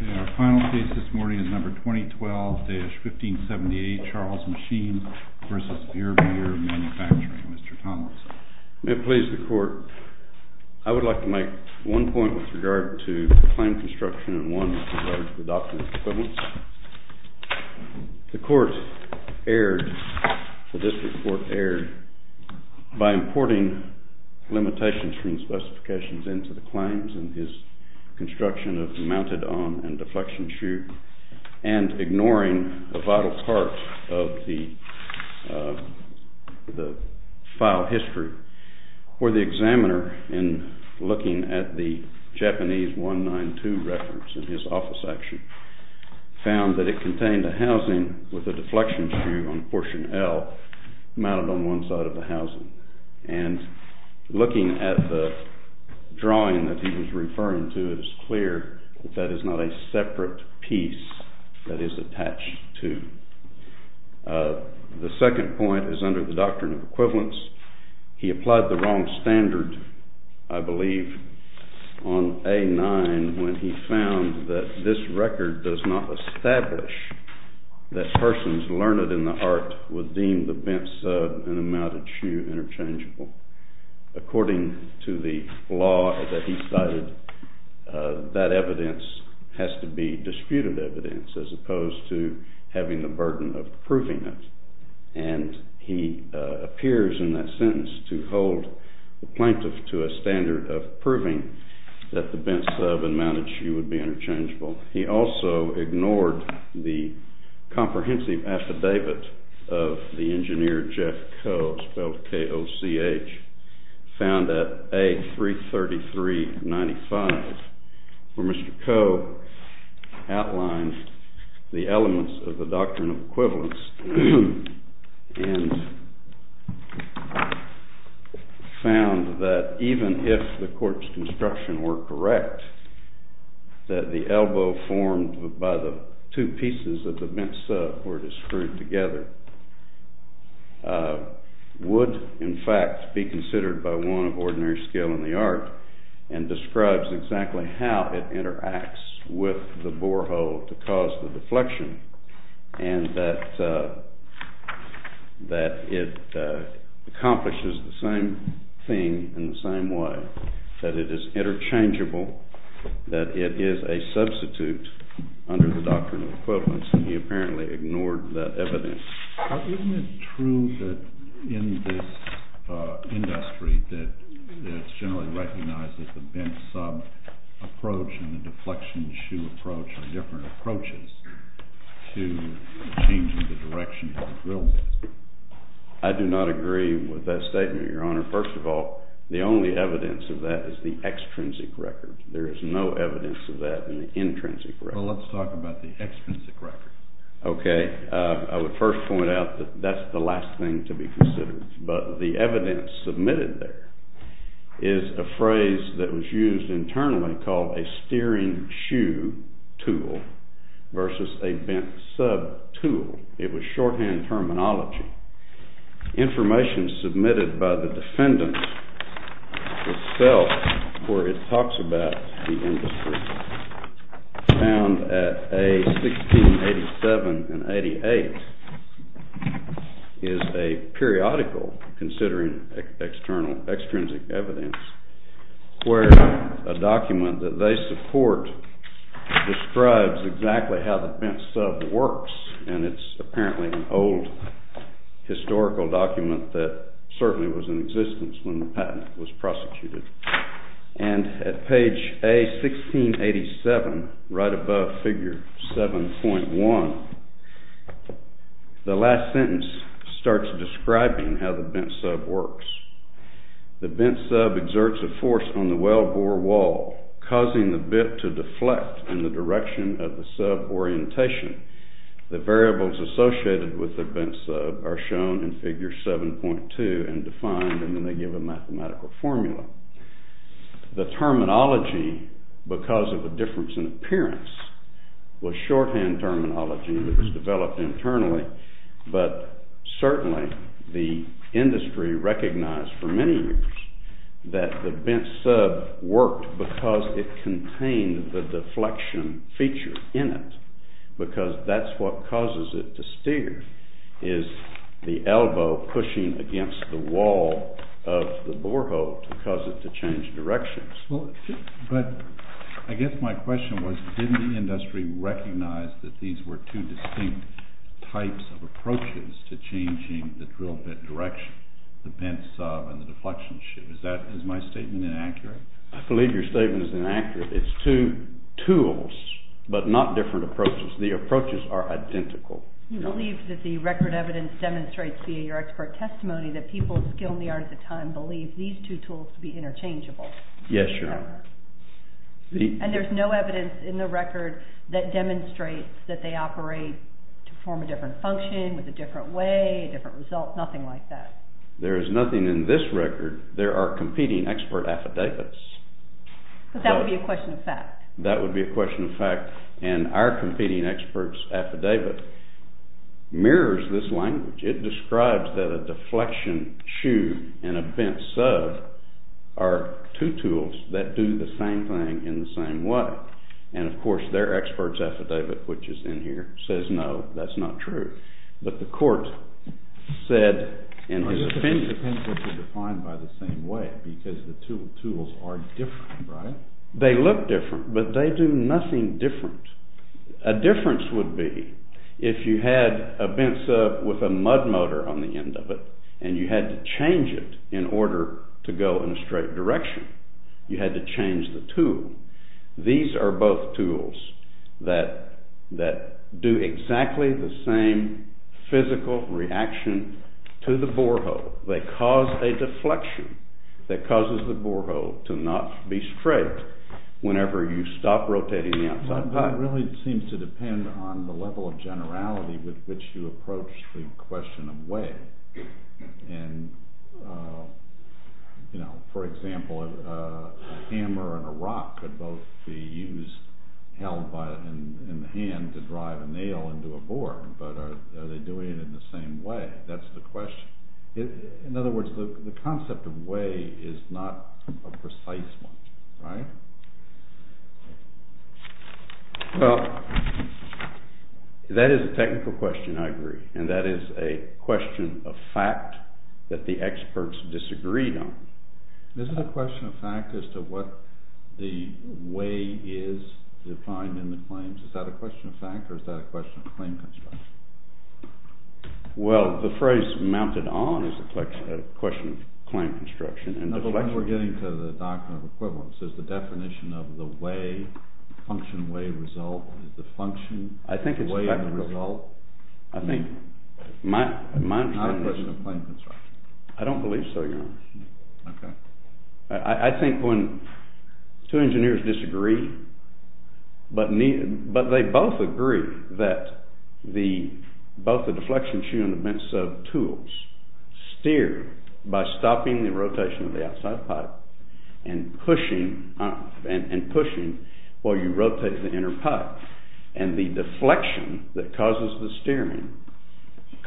May it please the Court, I would like to make one point with regard to the claim construction and one with regard to the document's equivalence. The Court erred, the District Court erred by importing limitations from the specifications into the claims and his construction of the mounted-on and deflection chute and ignoring a vital part of the file history where the examiner in looking at the Japanese 192 reference in his office section found that it contained a housing with a deflection chute on portion L mounted on one side of the housing. And looking at the drawing that he was referring to, it is clear that that is not a separate piece that is attached to. The second point is under the doctrine of equivalence. He applied the wrong standard, I believe, on A-9 when he found that this record does not establish that persons learned in the art would deem the bent sub and the mounted chute interchangeable. According to the law that he cited, that evidence has to be disputed evidence as opposed to having the burden of proving it, and he appears in that sentence to hold the plaintiff to a standard of proving that the bent sub and mounted chute would be interchangeable. He also ignored the comprehensive affidavit of the engineer Jeff Coe, spelled K-O-C-H, found at A-333-95, where Mr. Coe outlined the elements of the doctrine of equivalence and found that even if the court's construction were correct, that the elbow formed by the two pieces of the bent sub were to screw together would, in fact, be considered by one of ordinary skill in the art and describes exactly how it interacts with the borehole to cause the deflection, and that it accomplishes the same thing in the same way, that it is interchangeable, that it is a substitute under the doctrine of equivalence, and he apparently ignored that evidence. Isn't it true that in this industry that it's generally recognized that the bent sub approach and the deflection chute approach are different approaches to changing the direction of the drill bit? I do not agree with that statement, Your Honor. First of all, the only evidence of that is the extrinsic record. There is no evidence of that in the intrinsic record. Well, let's talk about the extrinsic record. Okay, I would first point out that that's the last thing to be considered, but the evidence submitted there is a phrase that was used internally called a steering shoe tool versus a bent sub tool. It was shorthand terminology. Information submitted by the defendant itself where it talks about the industry found at A1687 and 88 is a periodical, considering extrinsic evidence, where a document that they support describes exactly how the bent sub works, and it's apparently an old historical document that certainly was in existence when the patent was prosecuted. And at page A1687, right above figure 7.1, the last sentence starts describing how the bent sub works. The bent sub exerts a force on the wellbore wall, causing the bit to deflect in the direction of the sub orientation. The variables associated with the bent sub are shown in figure 7.2 and defined in the given mathematical formula. The terminology, because of a difference in appearance, was shorthand terminology that was developed internally, but certainly the industry recognized for many years that the bent sub worked because it contained the deflection feature in it, because that's what causes it to steer, is the elbow pushing against the wall of the borehole to cause it to change directions. But I guess my question was, didn't the industry recognize that these were two distinct types of approaches to changing the drill bit direction, the bent sub and the deflection shoe? Is my statement inaccurate? I believe your statement is inaccurate. It's two tools, but not different approaches. The approaches are identical. You believe that the record evidence demonstrates via your expert testimony that people of skill and the art of the time believed these two tools to be interchangeable? Yes, Your Honor. And there's no evidence in the record that demonstrates that they operate to perform a different function, with a different way, a different result, nothing like that? There is nothing in this record. There are competing expert affidavits. But that would be a question of fact. That would be a question of fact, and our competing expert's affidavit mirrors this language. It describes that a deflection shoe and a bent sub are two tools that do the same thing in the same way. And of course, their expert's affidavit, which is in here, says no, that's not true. But the court said in his opinion… But the two tools are defined by the same way, because the two tools are different, right? They look different, but they do nothing different. A difference would be if you had a bent sub with a mud motor on the end of it, and you had to change it in order to go in a straight direction. You had to change the tool. These are both tools that do exactly the same physical reaction to the borehole. They cause a deflection that causes the borehole to not be straight whenever you stop rotating the outside part. That really seems to depend on the level of generality with which you approach the question of way. For example, a hammer and a rock could both be used, held in the hand to drive a nail into a board, but are they doing it in the same way? That's the question. In other words, the concept of way is not a precise one, right? Well, that is a technical question, I agree, and that is a question of fact that the experts disagreed on. This is a question of fact as to what the way is defined in the claims. Is that a question of fact, or is that a question of claim construction? Well, the phrase mounted on is a question of claim construction. No, but we're getting to the doctrine of equivalence. Is the definition of the way, function, way, result, is the function the way of the result? I think my interpretation is... It's not a question of claim construction. I don't believe so, Your Honor. Okay. I think when two engineers disagree, but they both agree that both the deflection and the bent sub tools steer by stopping the rotation of the outside pipe and pushing while you rotate the inner pipe, and the deflection that causes the steering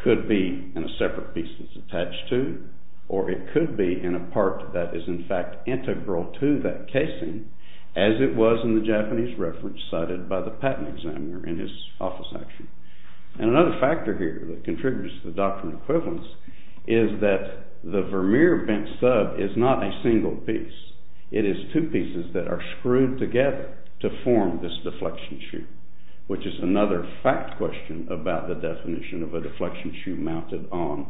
could be in a separate piece that's attached to, or it could be in a part that is in fact integral to that casing as it was in the Japanese reference cited by the patent examiner in his office action. And another factor here that contributes to the doctrine of equivalence is that the Vermeer bent sub is not a single piece. It is two pieces that are screwed together to form this deflection shoe, which is another fact question about the definition of a deflection shoe mounted on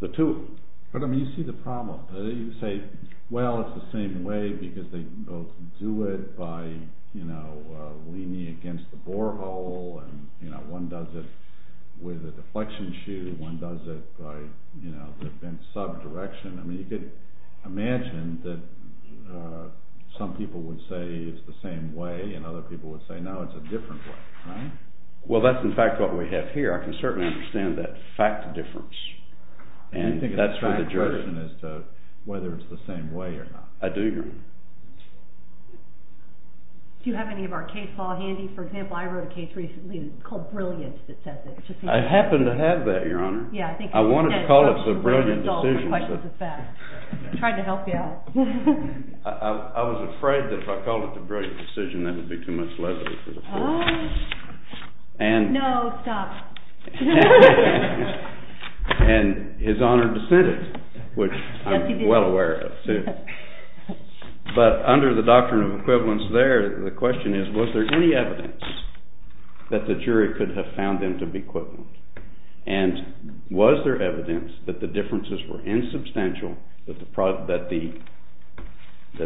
the tool. But, I mean, you see the problem. You say, well, it's the same way because they both do it by, you know, leaning against the borehole, and, you know, one does it with a deflection shoe, one does it by, you know, the bent sub direction. I mean, you could imagine that some people would say it's the same way and other people would say, no, it's a different way, right? Well, that's, in fact, what we have here. I can certainly understand that fact difference, and that's where the judgment is to whether it's the same way or not. I do agree. Do you have any of our case law handy? For example, I wrote a case recently that's called Brilliant that says that. I happen to have that, Your Honor. I wanted to call it the Brilliant decision. I tried to help you out. I was afraid that if I called it the Brilliant decision, that would be too much lesson for the court. No, stop. And his honored descendant, which I'm well aware of, too. But under the doctrine of equivalence there, the question is, was there any evidence that the jury could have found them to be equivalent? And was there evidence that the differences were insubstantial, that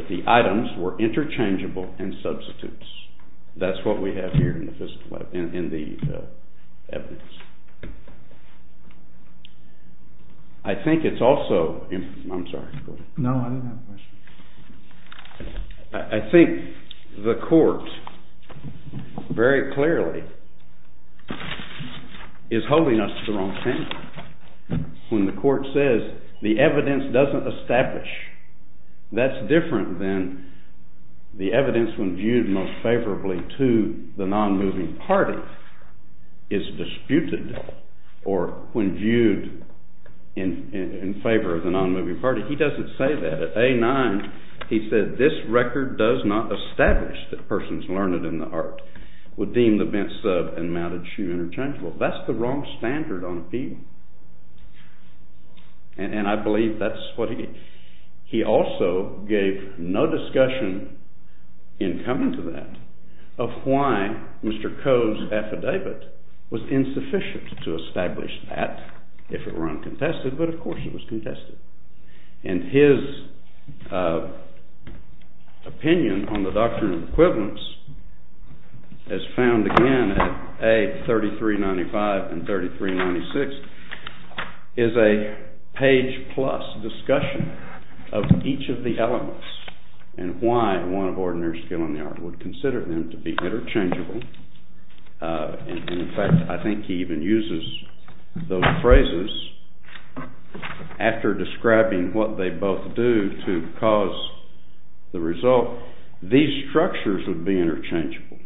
the items were interchangeable and substitutes? That's what we have here in the evidence. I think it's also—I'm sorry. No, I didn't have a question. I think the court very clearly is holding us to the wrong hand. When the court says the evidence doesn't establish, that's different than the evidence when viewed most favorably to the nonmoving party is disputed or when viewed in favor of the nonmoving party. He doesn't say that. At A-9, he said, this record does not establish that persons learned in the art would deem the bent sub and mounted shoe interchangeable. That's the wrong standard on appeal. And I believe that's what he—he also gave no discussion in coming to that of why Mr. Coe's affidavit was insufficient to establish that, if it were uncontested, but of course it was contested. And his opinion on the doctrine of equivalence, as found again at A-3395 and 3396, is a page-plus discussion of each of the elements and why one of ordinary skill in the art would consider them to be interchangeable. And in fact, I think he even uses those phrases after describing what they both do to cause the result, these structures would be interchangeable.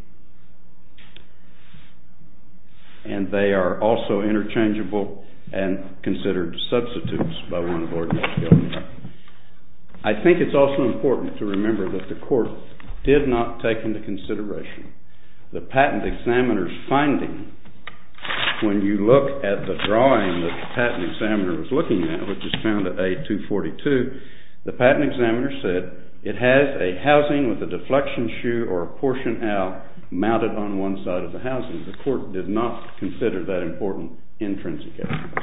And they are also interchangeable and considered substitutes by one of ordinary skill. I think it's also important to remember that the court did not take into consideration the patent examiner's finding. When you look at the drawing that the patent examiner was looking at, which is found at A-242, the patent examiner said it has a housing with a deflection shoe or a portion out mounted on one side of the housing. The court did not consider that important intrinsic evidence.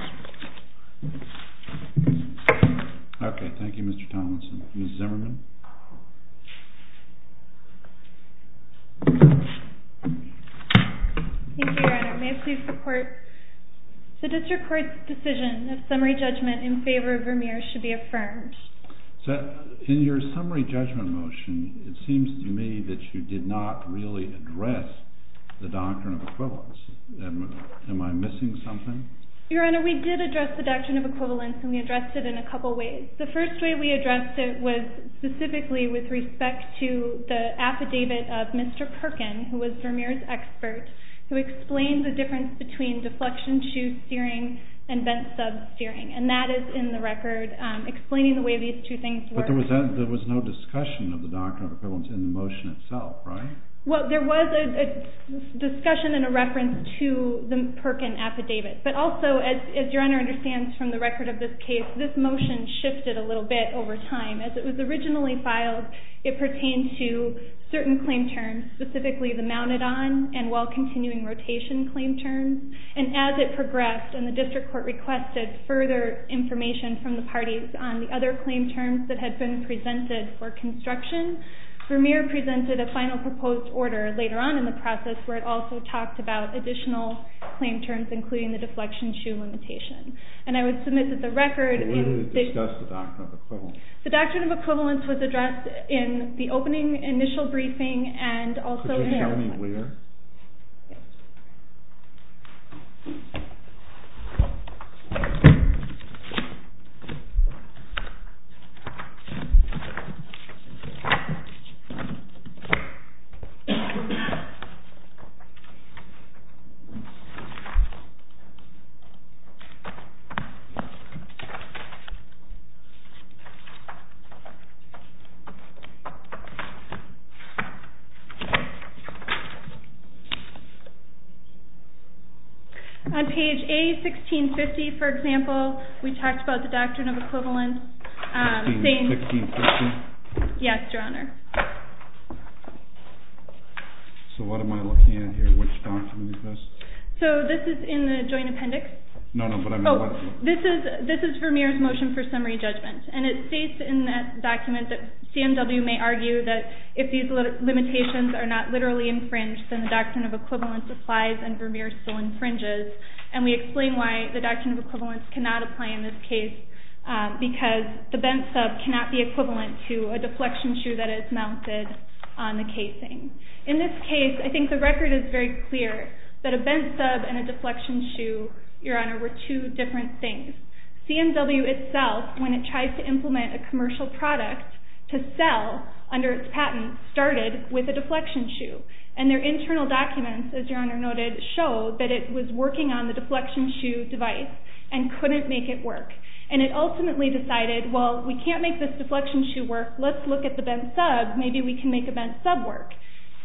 OK. Thank you, Mr. Tomlinson. Ms. Zimmerman? Thank you, Your Honor. May it please the court? The district court's decision of summary judgment in favor of Vermeer should be affirmed. In your summary judgment motion, it seems to me that you did not really address the doctrine of equivalence. Am I missing something? Your Honor, we did address the doctrine of equivalence, and we addressed it in a couple ways. The first way we addressed it was specifically with respect to the affidavit of Mr. Perkin, who was Vermeer's expert, who explained the difference between deflection shoe steering and bent sub steering. And that is in the record, explaining the way these two things work. But there was no discussion of the doctrine of equivalence in the motion itself, right? Well, there was a discussion and a reference to the Perkin affidavit. But also, as Your Honor understands from the record of this case, this motion shifted a little bit over time. As it was originally filed, it pertained to certain claim terms, specifically the mounted on and while continuing rotation claim terms. And as it progressed, and the district court requested further information from the parties on the other claim terms that had been presented for construction, Vermeer presented a final proposed order later on in the process where it also talked about additional claim terms, including the deflection shoe limitation. And I would submit that the record… But where did it discuss the doctrine of equivalence? The doctrine of equivalence was addressed in the opening initial briefing and also… Could you show me where? On page A, 1650, for example, we talked about the doctrine of equivalence. 1650? Yes, Your Honor. So what am I looking at here? Which document is this? So this is in the joint appendix. No, no, but I mean… Oh, this is Vermeer's motion for summary judgment. And it states in that document that CMW may argue that if these limitations are not literally infringed, then the doctrine of equivalence applies and Vermeer still infringes. And we explain why the doctrine of equivalence cannot apply in this case, because the bent sub cannot be equivalent to a deflection shoe that is mounted on the casing. In this case, I think the record is very clear that a bent sub and a deflection shoe, Your Honor, were two different things. CMW itself, when it tries to implement a commercial product to sell under its patent, started with a deflection shoe. And their internal documents, as Your Honor noted, show that it was working on the deflection shoe device and couldn't make it work. And it ultimately decided, well, we can't make this deflection shoe work, let's look at the bent sub, maybe we can make a bent sub work.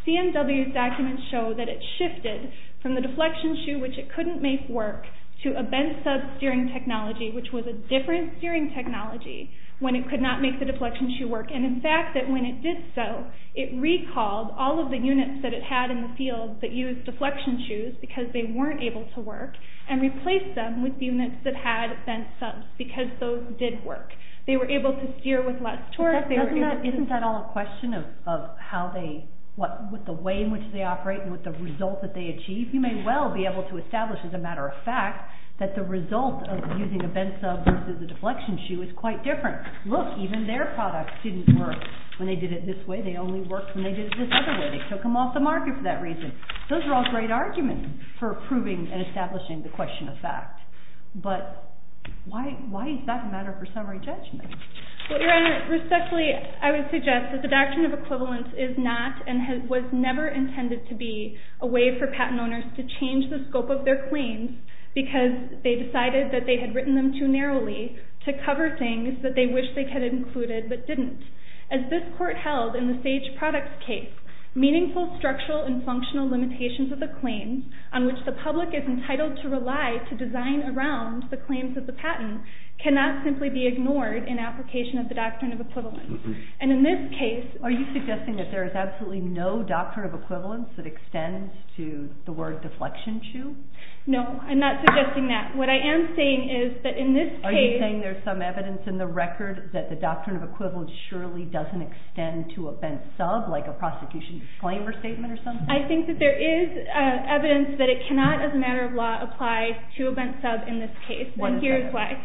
CMW's documents show that it shifted from the deflection shoe, which it couldn't make work, to a bent sub steering technology, which was a different steering technology, when it could not make the deflection shoe work. And in fact, that when it did so, it recalled all of the units that it had in the field that used deflection shoes, because they weren't able to work, and replaced them with units that had bent subs, because those did work. They were able to steer with less torque. Isn't that all a question of how they, what the way in which they operate and what the results that they achieve? You may well be able to establish, as a matter of fact, that the result of using a bent sub versus a deflection shoe is quite different. Look, even their products didn't work. When they did it this way, they only worked when they did it this other way. They took them off the market for that reason. Those are all great arguments for proving and establishing the question of fact. But why is that a matter for summary judgment? Well, Your Honor, respectfully, I would suggest that the doctrine of equivalence is not, and was never intended to be, a way for patent owners to change the scope of their claims, because they decided that they had written them too narrowly, to cover things that they wished they had included, but didn't. As this court held in the Sage Products case, meaningful structural and functional limitations of the claims, on which the public is entitled to rely to design around the claims of the patent, cannot simply be ignored in application of the doctrine of equivalence. And in this case... Are you suggesting that there is absolutely no doctrine of equivalence that extends to the word deflection shoe? No, I'm not suggesting that. What I am saying is that in this case... Are you saying there's some evidence in the record that the doctrine of equivalence surely doesn't extend to a bent sub, like a prosecution disclaimer statement or something? I think that there is evidence that it cannot, as a matter of law, apply to a bent sub in this case. And here's why.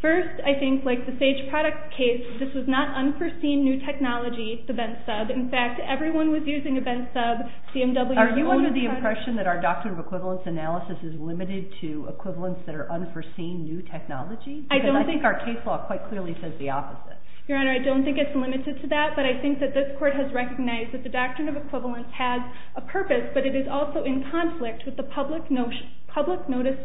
First, I think, like the Sage Products case, this was not unforeseen new technology, the bent sub. In fact, everyone was using a bent sub, CMW... Are you under the impression that our doctrine of equivalence analysis is limited to equivalents that are unforeseen new technology? Because I think our case law quite clearly says the opposite. Your Honor, I don't think it's limited to that, but I think that this court has recognized that the doctrine of equivalence has a purpose, but it is also in conflict with the public notice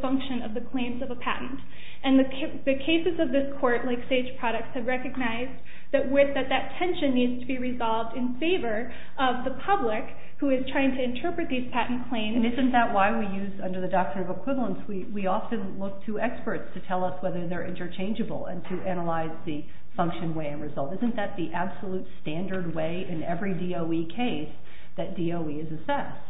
function of the claims of a patent. And the cases of this court, like Sage Products, have recognized that that tension needs to be resolved in favor of the public, who is trying to interpret these patent claims... In the case of the doctrine of equivalence, we often look to experts to tell us whether they're interchangeable and to analyze the function, way, and result. Isn't that the absolute standard way in every DOE case that DOE is assessed?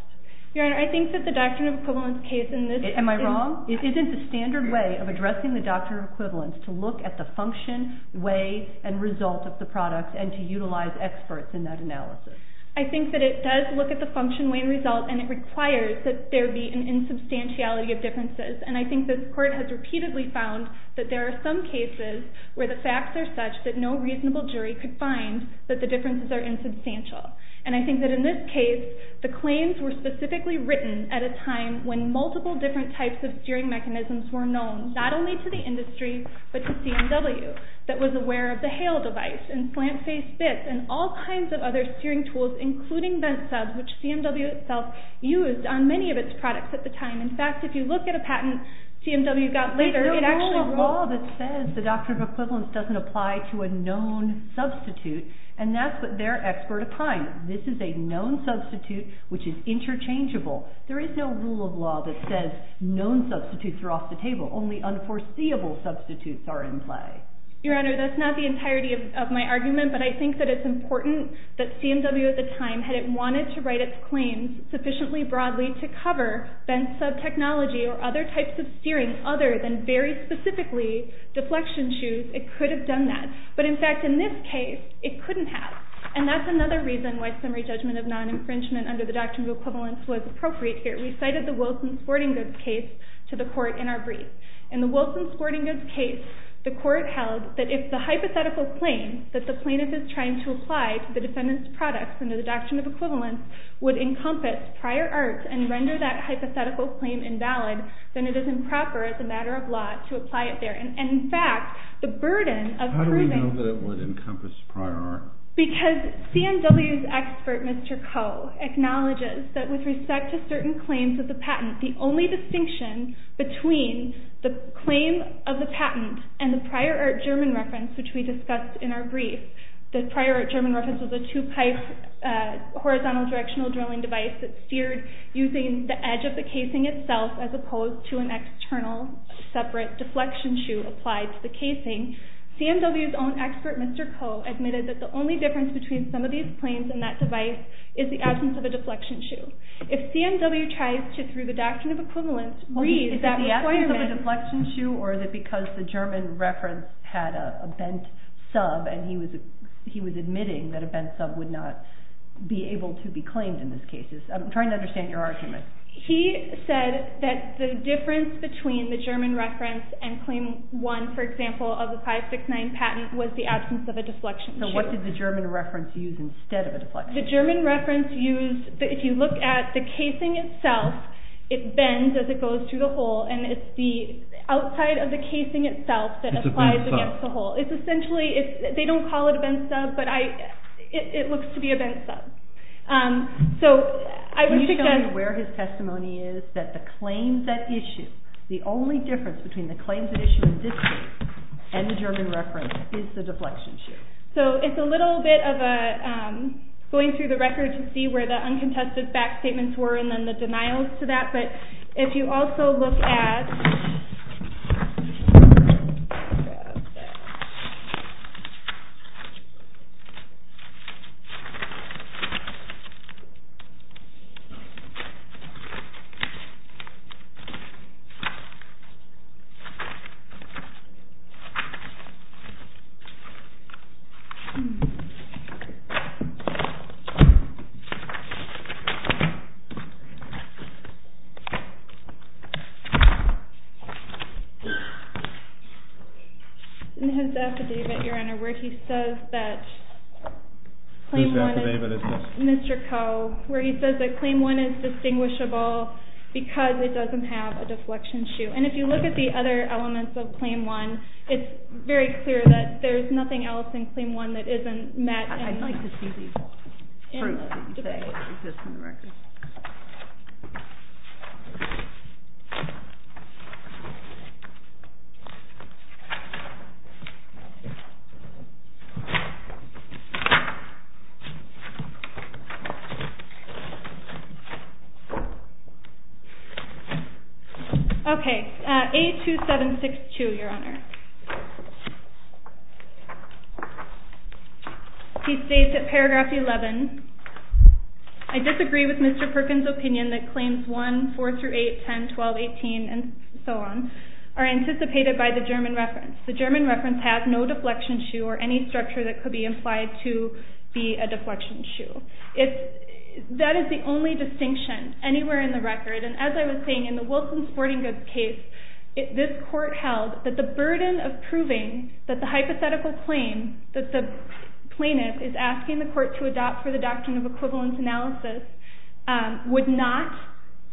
Your Honor, I think that the doctrine of equivalence case in this instance... Am I wrong? Isn't the standard way of addressing the doctrine of equivalence to look at the function, way, and result of the products and to utilize experts in that analysis? I think that it does look at the function, way, and result, and it requires that there be an insubstantiality of differences. And I think this court has repeatedly found that there are some cases where the facts are such that no reasonable jury could find that the differences are insubstantial. And I think that in this case, the claims were specifically written at a time when multiple different types of steering mechanisms were known, not only to the industry, but to CMW, that was aware of the HALE device and slant-faced bits and all kinds of other steering tools, including vent subs, which CMW itself used on many of its products at the time. In fact, if you look at a patent CMW got later, it actually... There is no law that says the doctrine of equivalence doesn't apply to a known substitute, and that's what they're expert upon. This is a known substitute, which is interchangeable. There is no rule of law that says known substitutes are off the table. Only unforeseeable substitutes are in play. Your Honor, that's not the entirety of my argument, but I think that it's important that CMW at the time, had it wanted to write its claims sufficiently broadly to cover vent sub technology or other types of steering other than very specifically deflection shoes, it could have done that. But in fact, in this case, it couldn't have. And that's another reason why summary judgment of non-infringement under the doctrine of equivalence was appropriate here. We cited the Wilson Sporting Goods case to the court in our brief. In the Wilson Sporting Goods case, the court held that if the hypothetical claim that the plaintiff is trying to apply to the defendant's products under the doctrine of equivalence would encompass prior art and render that hypothetical claim invalid, then it is improper as a matter of law to apply it there. And in fact, the burden of proving... How do we know that it would encompass prior art? Because CMW's expert, Mr. Koh, acknowledges that with respect to certain claims of the patent, the only distinction between the claim of the patent and the prior art German reference, which we discussed in our brief, the prior art German reference was a two-pipe horizontal directional drilling device that steered using the edge of the casing itself as opposed to an external separate deflection shoe applied to the casing. CMW's own expert, Mr. Koh, admitted that the only difference between some of these claims and that device is the absence of a deflection shoe. If CMW tries to, through the doctrine of equivalence, read that requirement... Is it the absence of a deflection shoe or is it because the German reference had a bent sub and he was admitting that a bent sub would not be able to be claimed in this case? I'm trying to understand your argument. He said that the difference between the German reference and claim one, for example, of the 569 patent, was the absence of a deflection shoe. So what did the German reference use instead of a deflection shoe? The German reference used, if you look at the casing itself, it bends as it goes through the hole and it's the outside of the casing itself that applies against the hole. It's essentially, they don't call it a bent sub, but it looks to be a bent sub. Can you tell me where his testimony is that the claims at issue, the only difference between the claims at issue in this case and the German reference is the deflection shoe? So it's a little bit of going through the record to see where the uncontested back statements were and then the denials to that, but if you also look at... His affidavit, Your Honor, where he says that... Mr. Koh, where he says that claim one is distinguishable because it doesn't have a deflection shoe. And if you look at the other elements of claim one, it's very clear that there's nothing else in claim one that isn't met... Okay, A2762, Your Honor. He states at paragraph 11, I disagree with Mr. Perkins' opinion that claims one, four through eight, ten, twelve, eighteen, and so on, are anticipated by the German reference. The German reference has no deflection shoe or any structure that could be implied to be a deflection shoe. That is the only distinction anywhere in the record. And as I was saying, in the Wilson Sporting Goods case, this court held that the burden of proving that the hypothetical claim that the plaintiff is asking the court to adopt for the doctrine of equivalence analysis would not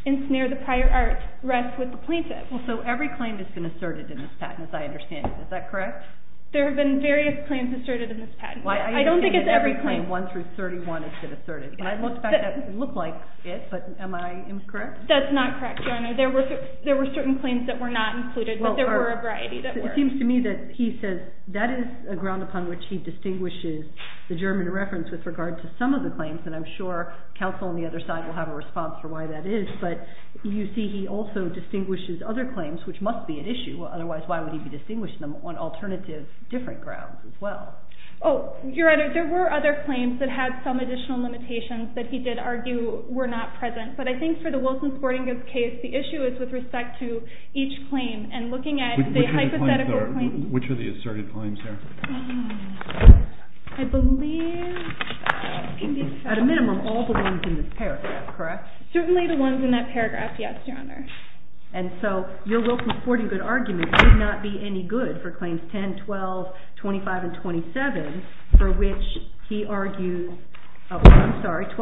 ensnare the prior art rest with the plaintiff. Well, so every claim has been asserted in this patent, as I understand it. Is that correct? There have been various claims asserted in this patent. I don't think it's every claim. I understand that every claim, one through 31, has been asserted. I looked back and it looked like it, but am I incorrect? That's not correct, Your Honor. There were certain claims that were not included, but there were a variety that were. It seems to me that he says that is a ground upon which he distinguishes the German reference with regard to some of the claims, and I'm sure counsel on the other side will have a response for why that is. But you see he also distinguishes other claims, which must be at issue. Otherwise, why would he be distinguishing them on alternative, different grounds as well? Oh, Your Honor, there were other claims that had some additional limitations that he did argue were not present. But I think for the Wilson-Sporting Goods case, the issue is with respect to each claim and looking at the hypothetical claims. Which are the asserted claims there? I believe it can be asserted. At a minimum, all the ones in this paragraph, correct? Certainly the ones in that paragraph, yes, Your Honor. And so your Wilson-Sporting Goods argument could not be any good for claims 10, 12, 25, and 27, for which he argued, oh, I'm sorry, 10,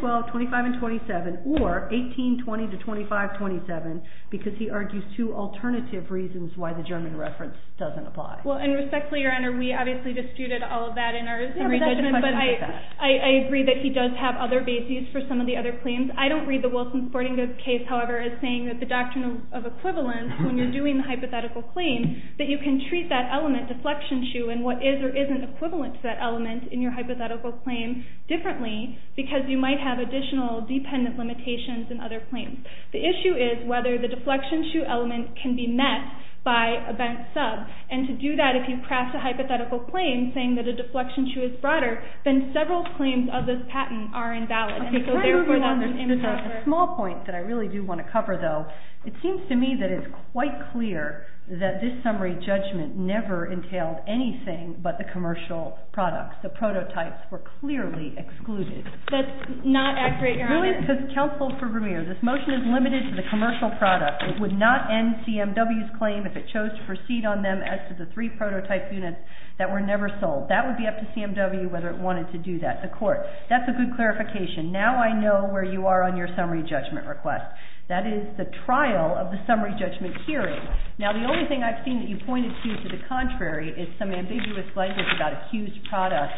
12, 25, and 27, or 18, 20, to 25, 27, because he argues two alternative reasons why the German reference doesn't apply. Well, and respectfully, Your Honor, we obviously disputed all of that in our summary judgment, but I agree that he does have other bases for some of the other claims. I don't read the Wilson-Sporting Goods case, however, as saying that the doctrine of equivalence, when you're doing the hypothetical claim, that you can treat that element, deflection shoe, and what is or isn't equivalent to that element in your hypothetical claim differently, because you might have additional dependent limitations in other claims. The issue is whether the deflection shoe element can be met by a bent sub, and to do that, if you craft a hypothetical claim saying that a deflection shoe is broader, then several claims of this patent are invalid. Okay, so therefore, there's a small point that I really do want to cover, though. It seems to me that it's quite clear that this summary judgment never entailed anything but the commercial products. The prototypes were clearly excluded. That's not accurate, Your Honor. Really, because counsel for Vermeer, this motion is limited to the commercial product. It would not end CMW's claim if it chose to proceed on them as to the three prototype units that were never sold. That would be up to CMW whether it wanted to do that. That's a good clarification. Now I know where you are on your summary judgment request. That is the trial of the summary judgment hearing. Now, the only thing I've seen that you pointed to to the contrary is some ambiguous language about accused products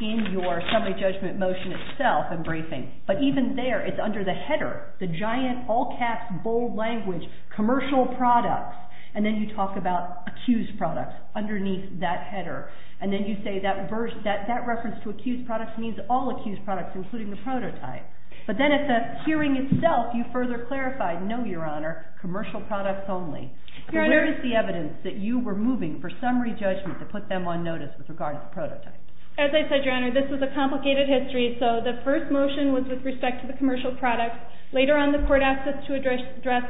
in your summary judgment motion itself and briefing. But even there, it's under the header, the giant, all-caps, bold language, commercial products, and then you talk about accused products underneath that header. And then you say that reference to accused products means all accused products, including the prototype. But then at the hearing itself, you further clarify, no, Your Honor, commercial products only. So where is the evidence that you were moving for summary judgment to put them on notice with regards to prototypes? As I said, Your Honor, this is a complicated history. So the first motion was with respect to the commercial products. Later on, the court asked us to address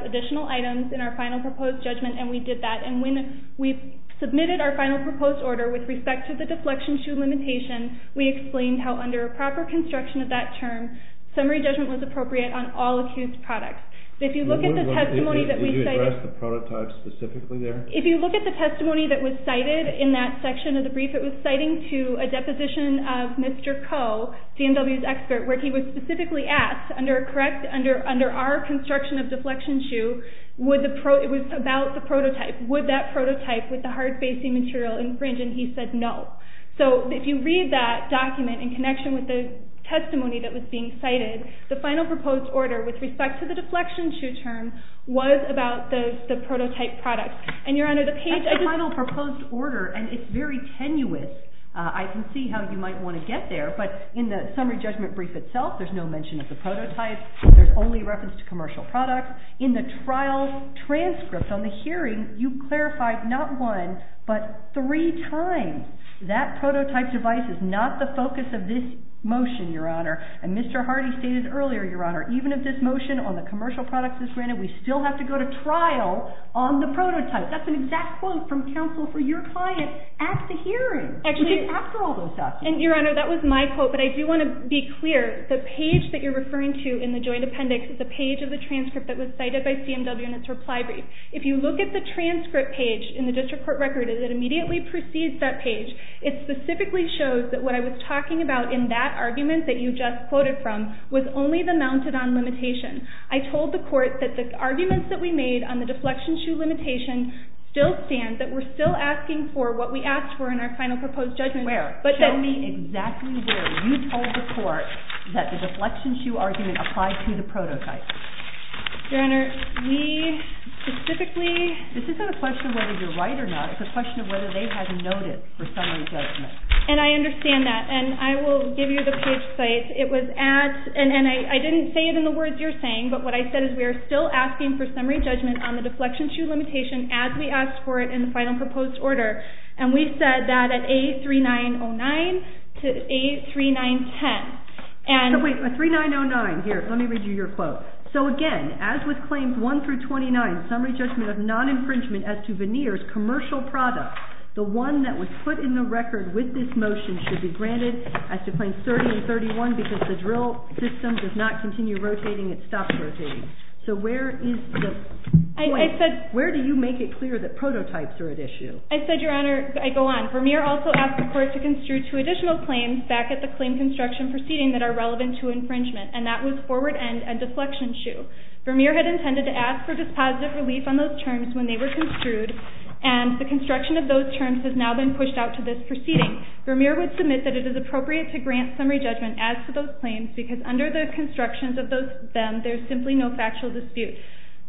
additional items in our final proposed judgment, and we did that. And when we submitted our final proposed order with respect to the deflection shoe limitation, we explained how under a proper construction of that term, summary judgment was appropriate on all accused products. If you look at the testimony that we cited – Did you address the prototype specifically there? If you look at the testimony that was cited in that section of the brief, it was citing to a deposition of Mr. Coe, CMW's expert, where he was specifically asked, under our construction of deflection shoe, it was about the prototype. Would that prototype with the hard-facing material infringe? And he said no. So if you read that document in connection with the testimony that was being cited, the final proposed order with respect to the deflection shoe term was about the prototype product. And Your Honor, the page – That's the final proposed order, and it's very tenuous. I can see how you might want to get there, but in the summary judgment brief itself, there's no mention of the prototype. There's only reference to commercial products. In the trial transcript on the hearing, you clarified not one but three times that prototype device is not the focus of this motion, Your Honor. And Mr. Hardy stated earlier, Your Honor, even if this motion on the commercial products is granted, we still have to go to trial on the prototype. That's an exact quote from counsel for your client at the hearing. Actually, Your Honor, that was my quote, but I do want to be clear. The page that you're referring to in the joint appendix is the page of the transcript that was cited by CMW in its reply brief. If you look at the transcript page in the district court record, it immediately precedes that page. It specifically shows that what I was talking about in that argument that you just quoted from was only the mounted-on limitation. I told the court that the arguments that we made on the deflection shoe limitation still stand, that we're still asking for what we asked for in our final proposed judgment. Where? Show me exactly where you told the court that the deflection shoe argument applied to the prototype. Your Honor, we specifically… This isn't a question of whether you're right or not. It's a question of whether they had notice for summary judgment. And I understand that, and I will give you the page site. And I didn't say it in the words you're saying, but what I said is we are still asking for summary judgment on the deflection shoe limitation as we asked for it in the final proposed order. And we said that at A3909 to A3910. So wait, A3909. Here, let me read you your quote. So again, as with Claims 1 through 29, summary judgment of non-infringement as to veneers, commercial products, the one that was put in the record with this motion should be granted as to Claims 30 and 31 because the drill system does not continue rotating. It stops rotating. So where is the point? Where do you make it clear that prototypes are at issue? I said, Your Honor, I go on. Vermeer also asked the court to construe two additional claims back at the claim construction proceeding that are relevant to infringement. And that was forward end and deflection shoe. Vermeer had intended to ask for dispositive relief on those terms when they were construed, and the construction of those terms has now been pushed out to this proceeding. Vermeer would submit that it is appropriate to grant summary judgment as to those claims because under the constructions of them, there is simply no factual dispute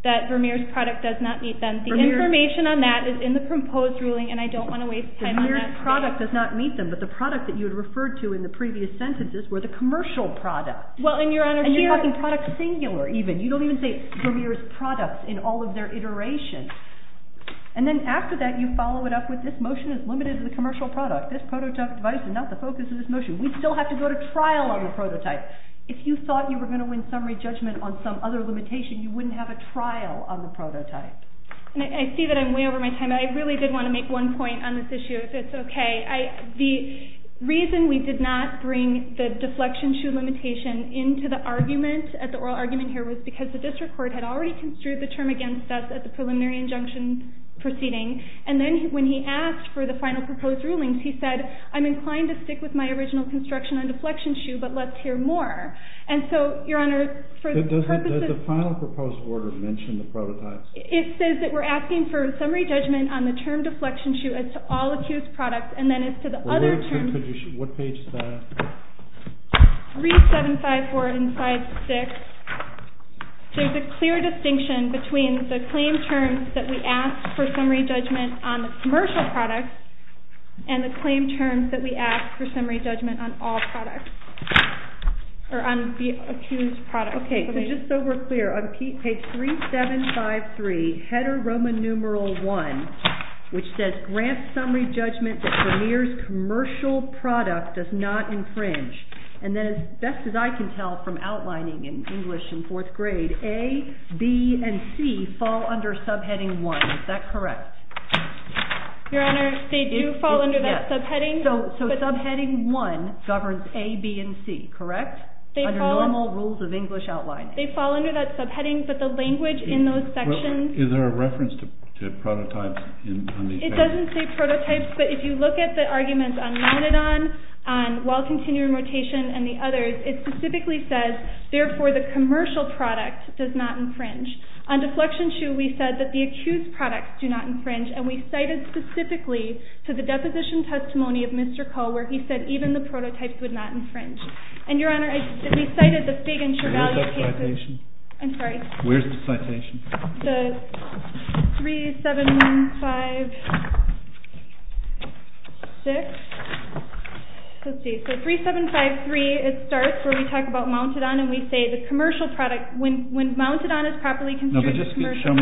that Vermeer's product does not meet them. The information on that is in the proposed ruling, and I don't want to waste time on that. Vermeer's product does not meet them, but the product that you had referred to in the previous sentences were the commercial product. And you're talking product singular even. You don't even say Vermeer's product in all of their iterations. And then after that, you follow it up with this motion is limited to the commercial product. This prototype device is not the focus of this motion. We still have to go to trial on the prototype. If you thought you were going to win summary judgment on some other limitation, you wouldn't have a trial on the prototype. I see that I'm way over my time. I really did want to make one point on this issue, if it's okay. The reason we did not bring the deflection shoe limitation into the oral argument here was because the district court had already construed the term against us at the preliminary injunction proceeding. And then when he asked for the final proposed rulings, he said, I'm inclined to stick with my original construction on deflection shoe, but let's hear more. And so, Your Honor, for the purposes of— Did the final proposed order mention the prototypes? It says that we're asking for summary judgment on the term deflection shoe as to all accused products. And then as to the other terms— What page is that? 3754 and 5-6. There's a clear distinction between the claim terms that we ask for summary judgment on the commercial products and the claim terms that we ask for summary judgment on all products, or on the accused products. Okay, so just so we're clear, on page 3753, header Roman numeral 1, which says, Grant summary judgment that premier's commercial product does not infringe. And then as best as I can tell from outlining in English in fourth grade, A, B, and C fall under subheading 1. Is that correct? Your Honor, they do fall under that subheading. So subheading 1 governs A, B, and C, correct? Under normal rules of English outlining. They fall under that subheading, but the language in those sections— Is there a reference to prototypes on these pages? It doesn't say prototypes, but if you look at the arguments on nonadon, on while continuing rotation, and the others, it specifically says, therefore, the commercial product does not infringe. On deflection shoe, we said that the accused products do not infringe, and we cited specifically to the deposition testimony of Mr. Koh where he said even the prototypes would not infringe. And, Your Honor, we cited the Figg and Travaglia cases— Where's that citation? I'm sorry? Where's the citation? The 3756. Let's see. So 3753, it starts where we talk about mounted on, and we say the commercial product, when mounted on is properly— No, but just show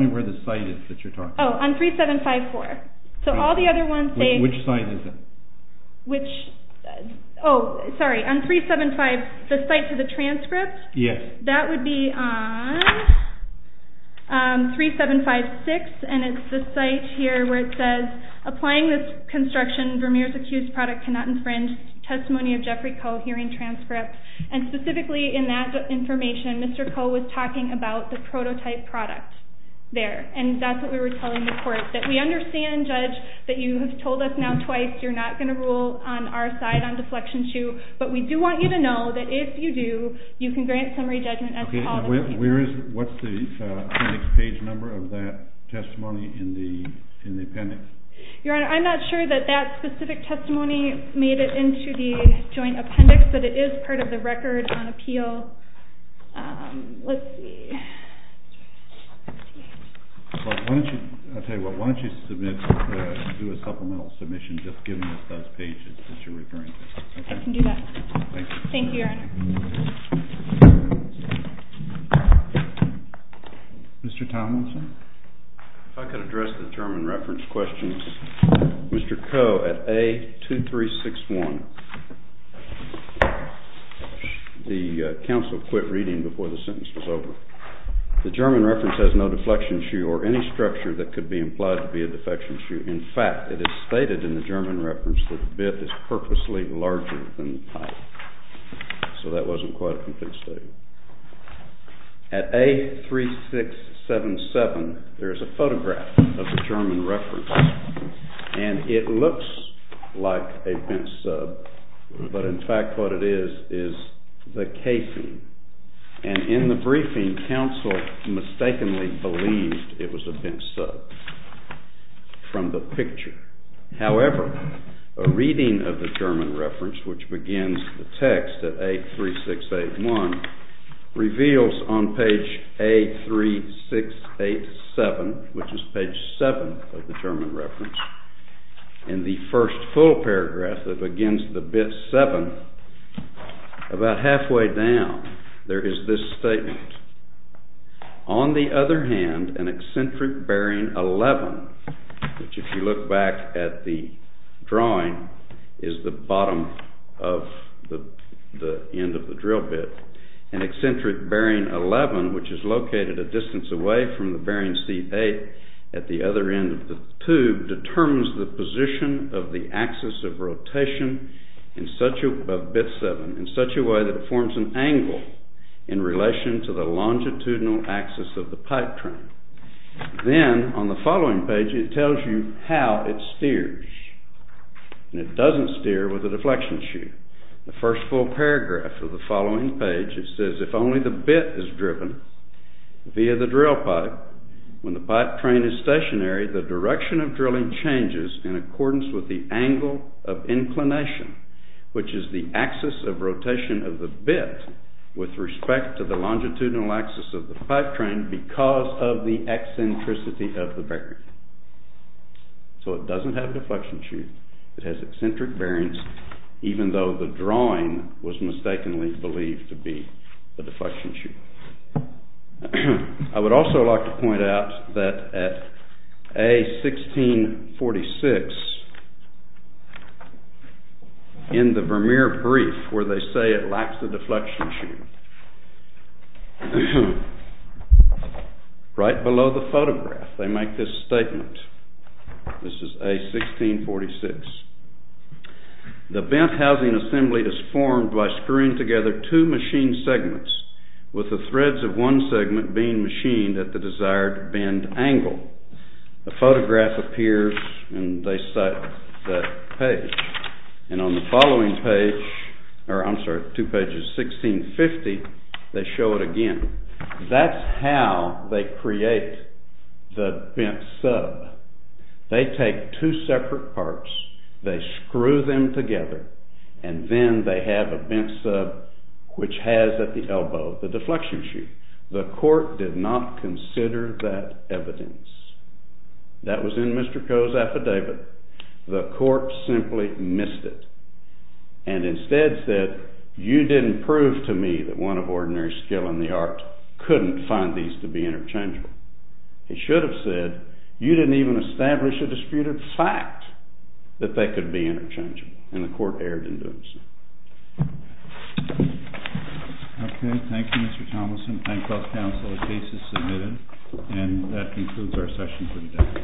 me where the site is that you're talking about. Oh, on 3754. So all the other ones say— Which site is it? Oh, sorry. On 375—the site for the transcript? Yes. That would be on 3756, and it's the site here where it says, applying this construction, Vermeer's accused product cannot infringe testimony of Jeffrey Koh hearing transcript. And specifically in that information, Mr. Koh was talking about the prototype product there, and that's what we were telling the court, that we understand, Judge, that you have told us now twice you're not going to rule on our side on deflection shoe, but we do want you to know that if you do, you can grant summary judgment as to all the— Okay, and where is—what's the appendix page number of that testimony in the appendix? Your Honor, I'm not sure that that specific testimony made it into the joint appendix, but it is part of the record on appeal. Let's see. Well, why don't you—I'll tell you what. Why don't you submit—do a supplemental submission just giving us those pages that you're referring to? I think I can do that. Thank you. Thank you, Your Honor. Mr. Tomlinson. If I could address the German reference questions. Mr. Koh, at A2361, the counsel quit reading before the sentence was over. The German reference has no deflection shoe or any structure that could be implied to be a deflection shoe. In fact, it is stated in the German reference that the bit is purposely larger than the pipe. So that wasn't quite a complete statement. At A3677, there is a photograph of the German reference, and it looks like a bent sub, but in fact what it is is the casing, and in the briefing, counsel mistakenly believed it was a bent sub from the picture. However, a reading of the German reference, which begins the text at A3681, reveals on page A3687, which is page 7 of the German reference, in the first full paragraph that begins the bit 7, about halfway down, there is this statement. On the other hand, an eccentric bearing 11, which if you look back at the drawing, is the bottom of the end of the drill bit. An eccentric bearing 11, which is located a distance away from the bearing C8 at the other end of the tube, determines the position of the axis of rotation of bit 7 in such a way that it forms an angle in relation to the longitudinal axis of the pipe trim. Then, on the following page, it tells you how it steers, and it doesn't steer with a deflection chute. The first full paragraph of the following page, it says, if only the bit is driven via the drill pipe, when the pipe train is stationary, the direction of drilling changes in accordance with the angle of inclination, which is the axis of rotation of the bit with respect to the longitudinal axis of the pipe train because of the eccentricity of the bearing. So, it doesn't have a deflection chute, it has eccentric bearings, even though the drawing was mistakenly believed to be the deflection chute. I would also like to point out that at A1646, in the Vermeer brief where they say it lacks a deflection chute, right below the photograph, they make this statement. This is A1646. The bent housing assembly is formed by screwing together two machined segments with the threads of one segment being machined at the desired bend angle. The photograph appears, and they cite that page. And on the following page, or I'm sorry, two pages, A1650, they show it again. That's how they create the bent sub. They take two separate parts, they screw them together, and then they have a bent sub which has at the elbow the deflection chute. The court did not consider that evidence. That was in Mr. Coe's affidavit. The court simply missed it and instead said, you didn't prove to me that one of ordinary skill and the art couldn't find these to be interchangeable. It should have said, you didn't even establish a disputed fact that they could be interchangeable. And the court erred in doing so. Okay, thank you Mr. Thomason. Thank both counsel. The case is submitted. And that concludes our session for today.